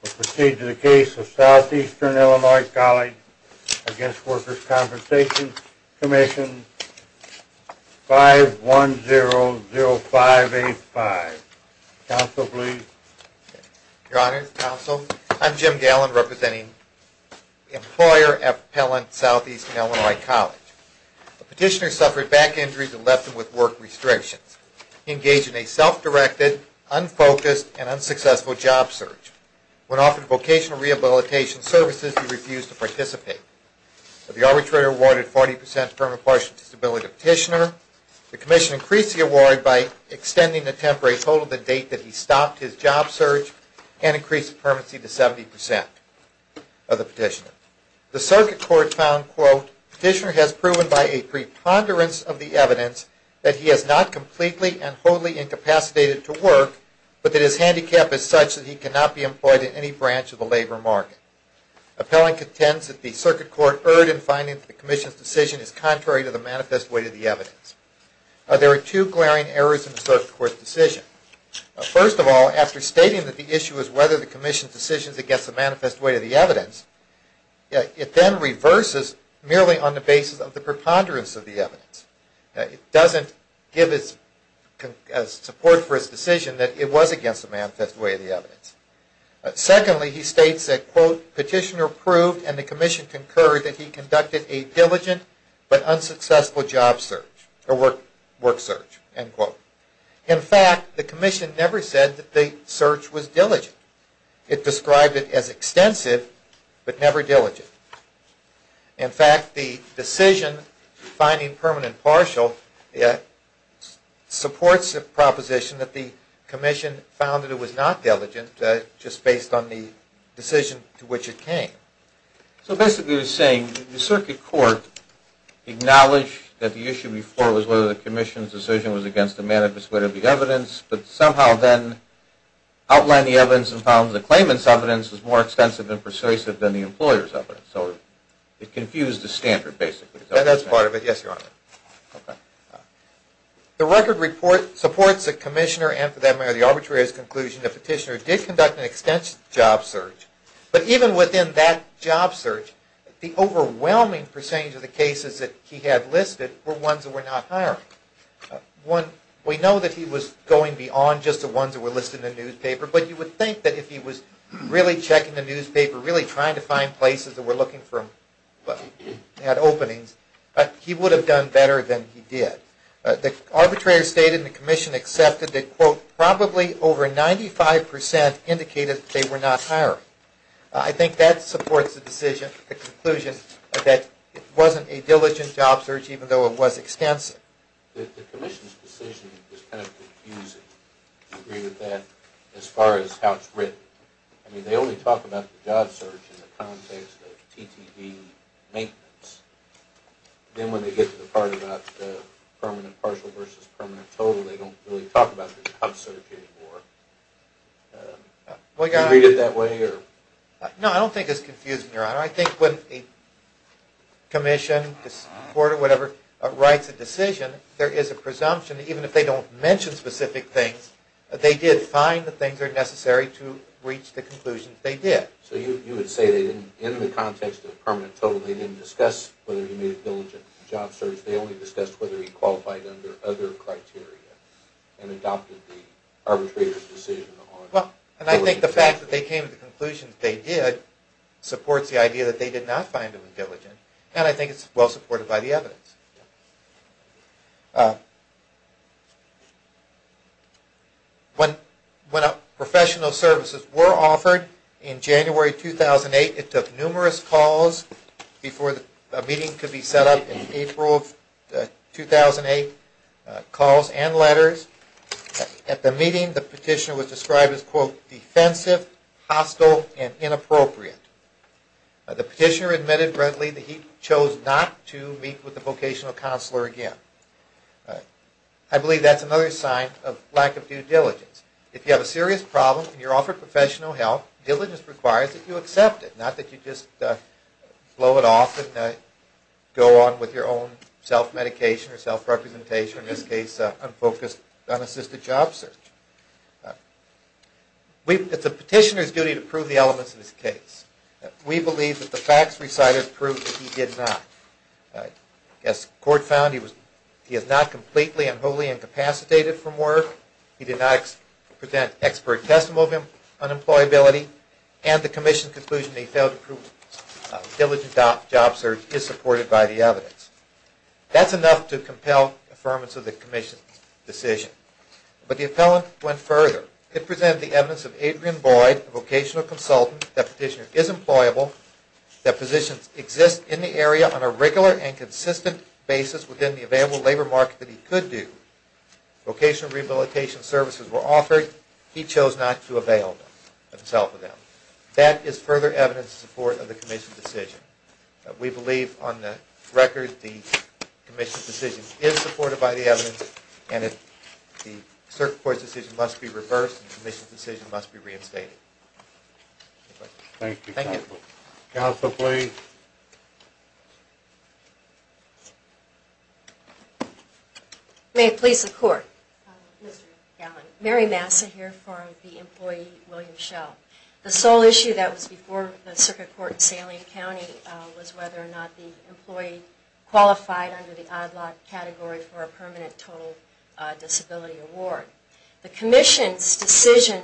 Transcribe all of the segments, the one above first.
We'll proceed to the case of Southeastern Illinois College v Workers' Compensation Commission, 5100585. Counsel, please. Your Honor, Counsel, I'm Jim Gallin, representing the employer appellant, Southeastern Illinois College. The petitioner suffered back injuries and left him with work restrictions. He engaged in a self-directed, unfocused, and unsuccessful job search. When offered vocational rehabilitation services, he refused to participate. The arbitrator awarded 40 percent permanent partial disability to the petitioner. The commission increased the award by extending the temporary total to the date that he stopped his job search and increased the permanency to 70 percent of the petitioner. The circuit court found, quote, petitioner has proven by a preponderance of the evidence that he has not completely and wholly incapacitated to work, but that his handicap is such that he cannot be employed in any branch of the labor market. Appellant contends that the circuit court erred in finding that the commission's decision is contrary to the manifest weight of the evidence. There are two glaring errors in the circuit court's decision. First of all, after stating that the issue is whether the commission's decision is against the manifest weight of the evidence, it then reverses merely on the basis of the preponderance of the evidence. It doesn't give its support for its decision that it was against the manifest weight of the evidence. Secondly, he states that, quote, petitioner proved and the commission concurred that he conducted a diligent but unsuccessful job search, or work search, end quote. In fact, the commission never said that the search was diligent. It described it as extensive but never diligent. In fact, the decision finding permanent partial supports the proposition that the commission found that it was not diligent just based on the decision to which it came. So basically you're saying the circuit court acknowledged that the issue before was whether the commission's decision was against the manifest weight of the evidence, but somehow then outlined the evidence and found that the claimant's evidence was more extensive and persuasive than the employer's evidence. So it confused the standard, basically. That's part of it. Yes, Your Honor. The record report supports the commissioner and, for that matter, the arbitrator's conclusion that the petitioner did conduct an extensive job search. But even within that job search, the overwhelming percentage of the cases that he had listed were ones that were not hiring. One, we know that he was going beyond just the ones that were listed in the newspaper, but you would think that if he was really checking the newspaper, really trying to find places that were looking for bad openings, he would have done better than he did. The arbitrator stated and the commission accepted that, quote, probably over 95% indicated that they were not hiring. I think that supports the conclusion that it wasn't a diligent job search, even though it was extensive. The commission's decision is kind of confusing, to agree with that, as far as how it's written. I mean, they only talk about the job search in the context of TTV maintenance. Then when they get to the part about permanent partial versus permanent total, they don't really talk about the job search anymore. Do you read it that way? No, I don't think it's confusing, Your Honor. I think when a commission, court, or whatever, writes a decision, there is a presumption that even if they don't mention specific things, they did find the things that are necessary to reach the conclusions they did. So you would say that in the context of permanent total, they didn't discuss whether he made a diligent job search. They only discussed whether he qualified under other criteria and adopted the arbitrator's decision. Well, and I think the fact that they came to the conclusion that they did supports the idea that they did not find him diligent, and I think it's well supported by the evidence. When professional services were offered in January 2008, it took numerous calls before a meeting could be set up in April of 2008, calls and letters. At the meeting, the petitioner was described as, quote, defensive, hostile, and inappropriate. The petitioner admitted readily that he chose not to meet with the vocational counselor again. I believe that's another sign of lack of due diligence. If you have a serious problem and you're offered professional help, diligence requires that you accept it, not that you just blow it off and go on with your own self-medication or self-representation, in this case, unfocused, unassisted job search. It's the petitioner's duty to prove the elements of his case. We believe that the facts recited prove that he did not. As court found, he is not completely and wholly incapacitated from work, he did not present expert testimony of unemployability, and the commission's conclusion that he failed to prove diligent job search is supported by the evidence. That's enough to compel affirmance of the commission's decision. But the appellant went further. It presented the evidence of Adrian Boyd, a vocational consultant, that the petitioner is employable, that positions exist in the area on a regular and consistent basis within the available labor market that he could do, vocational rehabilitation services were offered, he chose not to avail himself of them. That is further evidence in support of the commission's decision. We believe on the record the commission's decision is supported by the evidence and the circuit court's decision must be reversed and the commission's decision must be reinstated. Thank you. Counsel, please. May it please the court. Mary Massa here for the employee, William Schell. The sole issue that was before the circuit court in Saline County was whether or not the employee qualified under the odd-lot category for a permanent total disability award. The commission's decision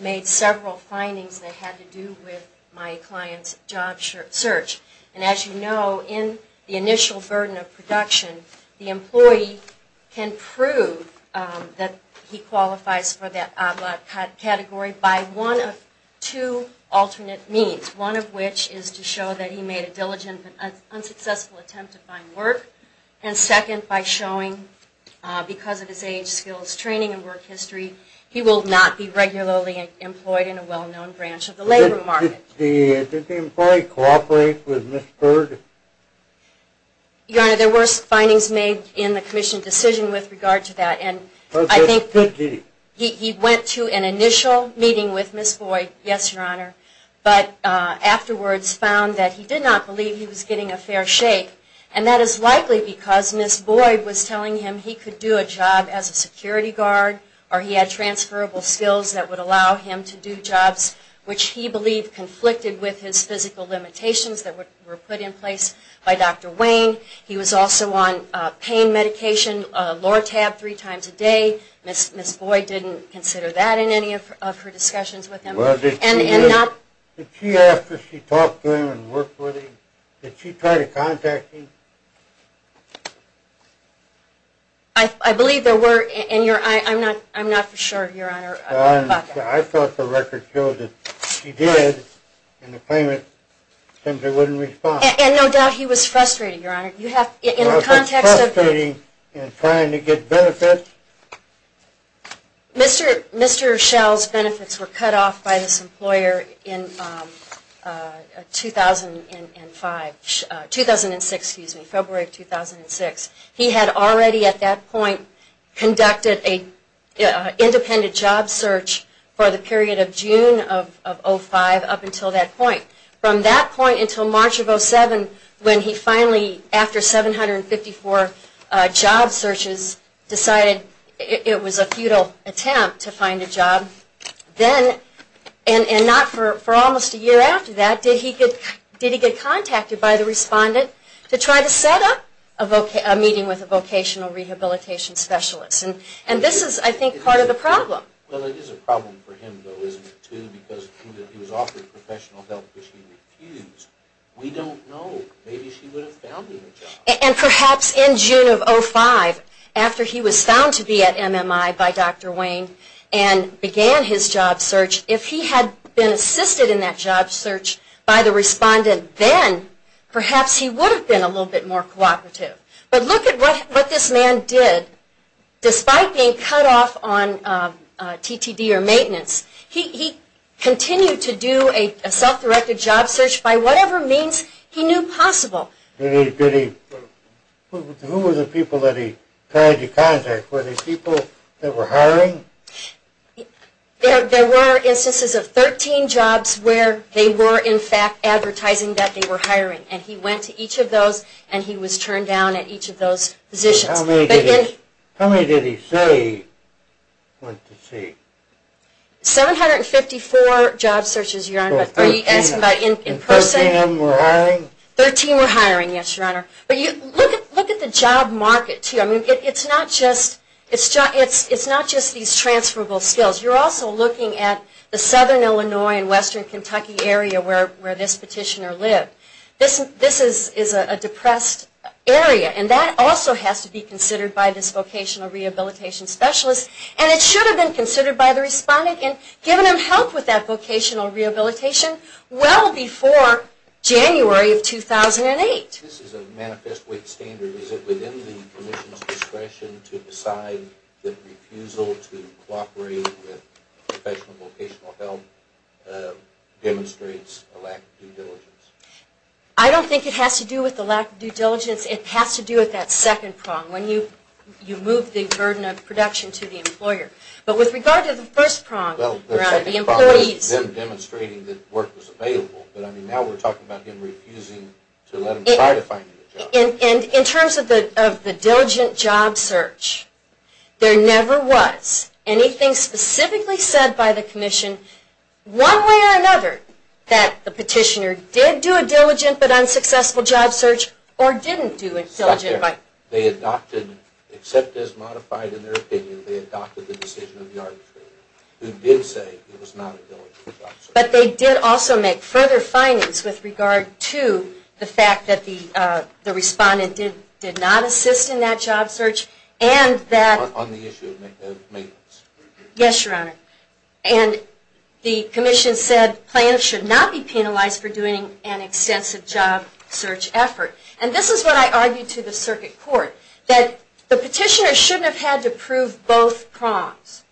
made several findings that had to do with my client's job search. And as you know, in the initial burden of production, the employee can prove that he qualifies for that odd-lot category by one of two alternate means, one of which is to show that he made a diligent but unsuccessful attempt to find work, and second by showing because of his age, skills, training, and work history, he will not be regularly employed in a well-known branch of the labor market. Did the employee cooperate with Ms. Boyd? Your Honor, there were findings made in the commission's decision with regard to that. And I think he went to an initial meeting with Ms. Boyd, yes, Your Honor. But afterwards found that he did not believe he was getting a fair shake. And that is likely because Ms. Boyd was telling him he could do a job as a security guard or he had transferable skills that would allow him to do jobs which he believed conflicted with his physical limitations that were put in place by Dr. Wayne. He was also on pain medication, Lortab, three times a day. Ms. Boyd didn't consider that in any of her discussions with him. Well, did she after she talked to him and worked with him, did she try to contact him? I believe there were, and I'm not for sure, Your Honor. I thought the record showed that she did, and the claimant simply wouldn't respond. And no doubt he was frustrated, Your Honor. Was he frustrated in trying to get benefits? Mr. Schell's benefits were cut off by this employer in 2005, 2006, excuse me, February of 2006. He had already at that point conducted an independent job search for the period of June of 2005 up until that point. From that point until March of 2007 when he finally, after 754 job searches, decided it was a futile attempt to find a job. Then, and not for almost a year after that, did he get contacted by the respondent to try to set up a meeting with a vocational rehabilitation specialist? And this is, I think, part of the problem. Well, it is a problem for him, though, isn't it, too, because he was offered professional help, which he refused. We don't know. Maybe she would have found him a job. And perhaps in June of 2005, after he was found to be at MMI by Dr. Wayne and began his job search, if he had been assisted in that job search by the respondent then, perhaps he would have been a little bit more cooperative. But look at what this man did. Despite being cut off on TTD or maintenance, he continued to do a self-directed job search by whatever means he knew possible. Who were the people that he tried to contact? Were they people that were hiring? There were instances of 13 jobs where they were, in fact, advertising that they were hiring. And he went to each of those, and he was turned down at each of those positions. How many did he say went to see? 754 job searches, Your Honor. So 13 of them were hiring? 13 were hiring, yes, Your Honor. But look at the job market, too. I mean, it's not just these transferable skills. You're also looking at the southern Illinois and western Kentucky area where this petitioner lived. This is a depressed area, and that also has to be considered by this vocational rehabilitation specialist. And it should have been considered by the respondent and given him help with that vocational rehabilitation well before January of 2008. This is a manifest wait standard. Is it within the commission's discretion to decide that refusal to cooperate with professional vocational help demonstrates a lack of due diligence? I don't think it has to do with the lack of due diligence. It has to do with that second prong, when you move the burden of production to the employer. But with regard to the first prong, Your Honor, the employees. Well, the second prong was them demonstrating that work was available. But, I mean, now we're talking about him refusing to let them try to find a job. And in terms of the diligent job search, there never was anything specifically said by the commission. One way or another, that the petitioner did do a diligent but unsuccessful job search or didn't do a diligent job search. They adopted, except as modified in their opinion, they adopted the decision of the arbitrator, who did say it was not a diligent job search. But they did also make further findings with regard to the fact that the respondent did not assist in that job search. On the issue of maintenance. Yes, Your Honor. And the commission said plaintiffs should not be penalized for doing an extensive job search effort. And this is what I argued to the circuit court. That the petitioner shouldn't have had to prove both prongs.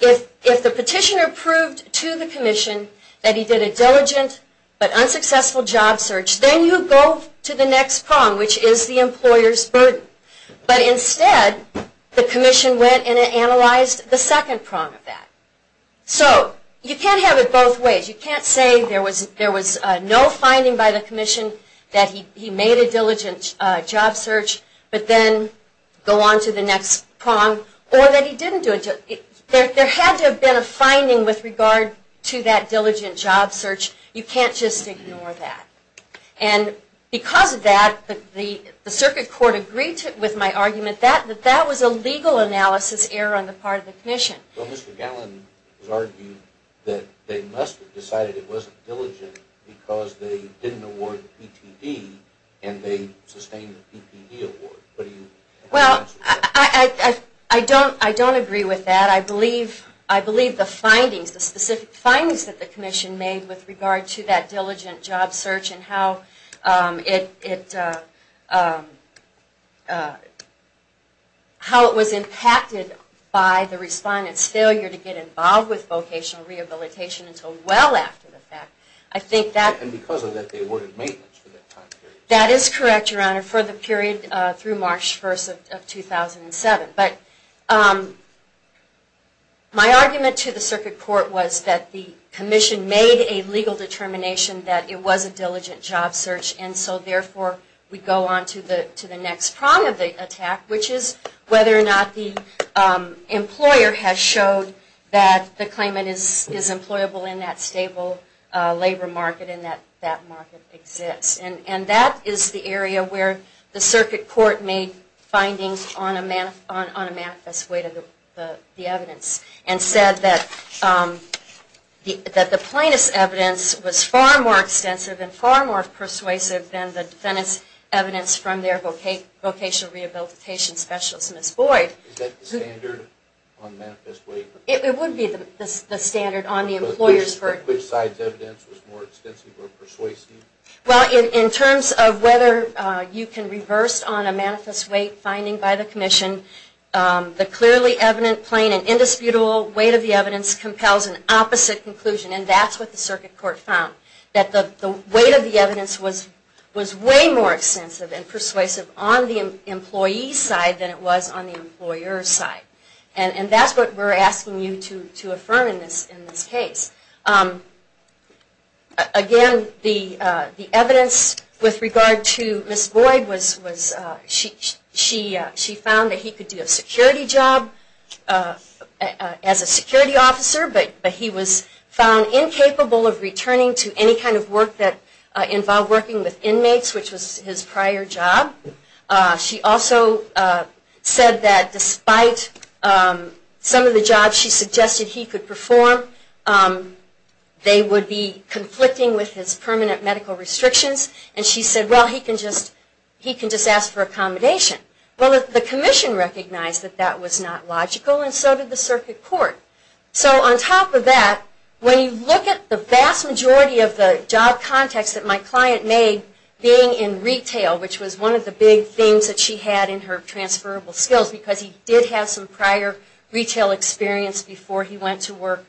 If the petitioner proved to the commission that he did a diligent but unsuccessful job search, then you go to the next prong, which is the employer's burden. But instead, the commission went and analyzed the second prong of that. So, you can't have it both ways. You can't say there was no finding by the commission that he made a diligent job search, but then go on to the next prong, or that he didn't do it. There had to have been a finding with regard to that diligent job search. You can't just ignore that. And because of that, the circuit court agreed with my argument that that was a legal analysis error on the part of the commission. Well, Mr. Gallin was arguing that they must have decided it wasn't diligent because they didn't award the PTD and they sustained the PPD award. Well, I don't agree with that. I believe the specific findings that the commission made with regard to that diligent job search and how it was impacted by the respondent's failure to get involved with vocational rehabilitation until well after the fact. And because of that, they awarded maintenance for that time period. That is correct, Your Honor, for the period through March 1st of 2007. But my argument to the circuit court was that the commission made a legal determination that it was a diligent job search, and so therefore we go on to the next prong of the attack, which is whether or not the employer has showed that the claimant is employable in that stable labor market and that that market exists. And that is the area where the circuit court made findings on a manifest weight of the evidence and said that the plaintiff's evidence was far more extensive and far more persuasive than the defendant's evidence from their vocational rehabilitation specialist, Ms. Boyd. Is that the standard on manifest weight? It would be the standard on the employer's work. Which side's evidence was more extensive or persuasive? Well, in terms of whether you can reverse on a manifest weight finding by the commission, the clearly evident plain and indisputable weight of the evidence compels an opposite conclusion, and that's what the circuit court found, that the weight of the evidence was way more extensive and persuasive on the employee's side than it was on the employer's side. And that's what we're asking you to affirm in this case. Again, the evidence with regard to Ms. Boyd was she found that he could do a security job as a security officer, but he was found incapable of returning to any kind of work that involved working with inmates, which was his prior job. She also said that despite some of the jobs she suggested he could perform, they would be conflicting with his permanent medical restrictions, and she said, well, he can just ask for accommodation. Well, the commission recognized that that was not logical, and so did the circuit court. So on top of that, when you look at the vast majority of the job contacts that my client made, being in retail, which was one of the big things that she had in her transferable skills, because he did have some prior retail experience before he went to work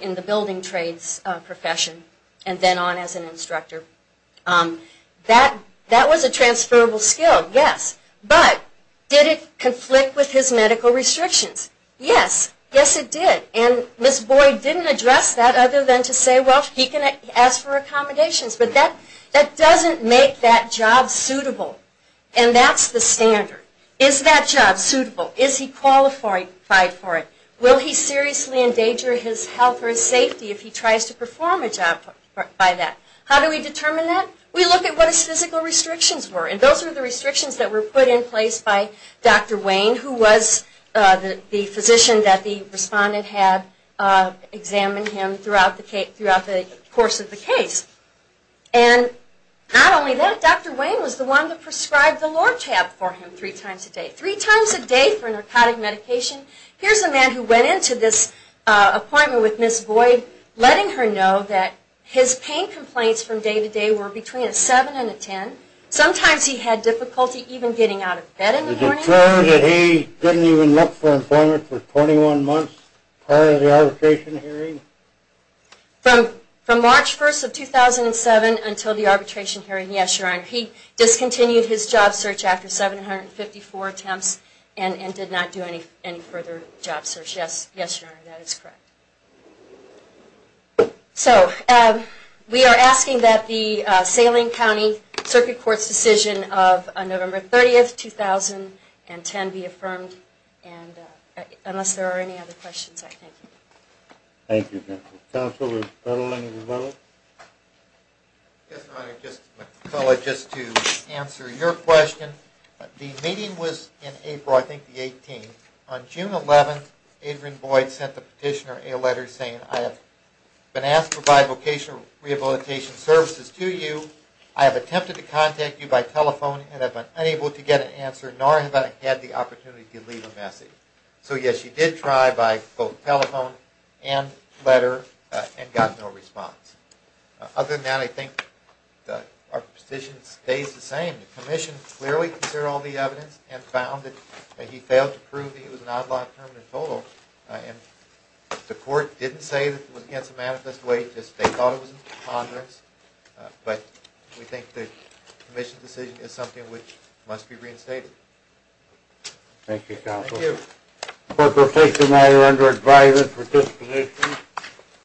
in the building trades profession and then on as an instructor, that was a transferable skill, yes. But did it conflict with his medical restrictions? Yes. Yes, it did. And Ms. Boyd didn't address that other than to say, well, he can ask for accommodations, but that doesn't make that job suitable, and that's the standard. Is that job suitable? Is he qualified for it? Will he seriously endanger his health or his safety if he tries to perform a job by that? How do we determine that? We look at what his physical restrictions were, and those were the restrictions that were put in place by Dr. Wayne, who was the physician that the respondent had examined him throughout the course of the case. And not only that, Dr. Wayne was the one that prescribed the Lortab for him three times a day, three times a day for narcotic medication. Here's a man who went into this appointment with Ms. Boyd, letting her know that his pain complaints from day to day were between a 7 and a 10. Sometimes he had difficulty even getting out of bed in the morning. Did it show that he didn't even look for employment for 21 months prior to the altercation hearing? From March 1st of 2007 until the arbitration hearing, yes, Your Honor. He discontinued his job search after 754 attempts and did not do any further job search. Yes, Your Honor, that is correct. So we are asking that the Salem County Circuit Court's decision of November 30th, 2010, be affirmed. Unless there are any other questions, I thank you. Thank you, counsel. Counsel, Mr. Petalini, would you like to? Yes, Your Honor, just to answer your question. The meeting was in April, I think the 18th. On June 11th, Adrian Boyd sent the petitioner a letter saying, I have been asked to provide vocational rehabilitation services to you. I have attempted to contact you by telephone and have been unable to get an answer, nor have I had the opportunity to leave a message. So yes, she did try by both telephone and letter and got no response. Other than that, I think our position stays the same. The Commission clearly considered all the evidence and found that he failed to prove that he was an odd lot of permanent total. And the court didn't say that it was against the manifest way, just they thought it was a preponderance. But we think the Commission's decision is something which must be reinstated. Thank you, counsel. Thank you. The court will take the matter under advisory for disciplination.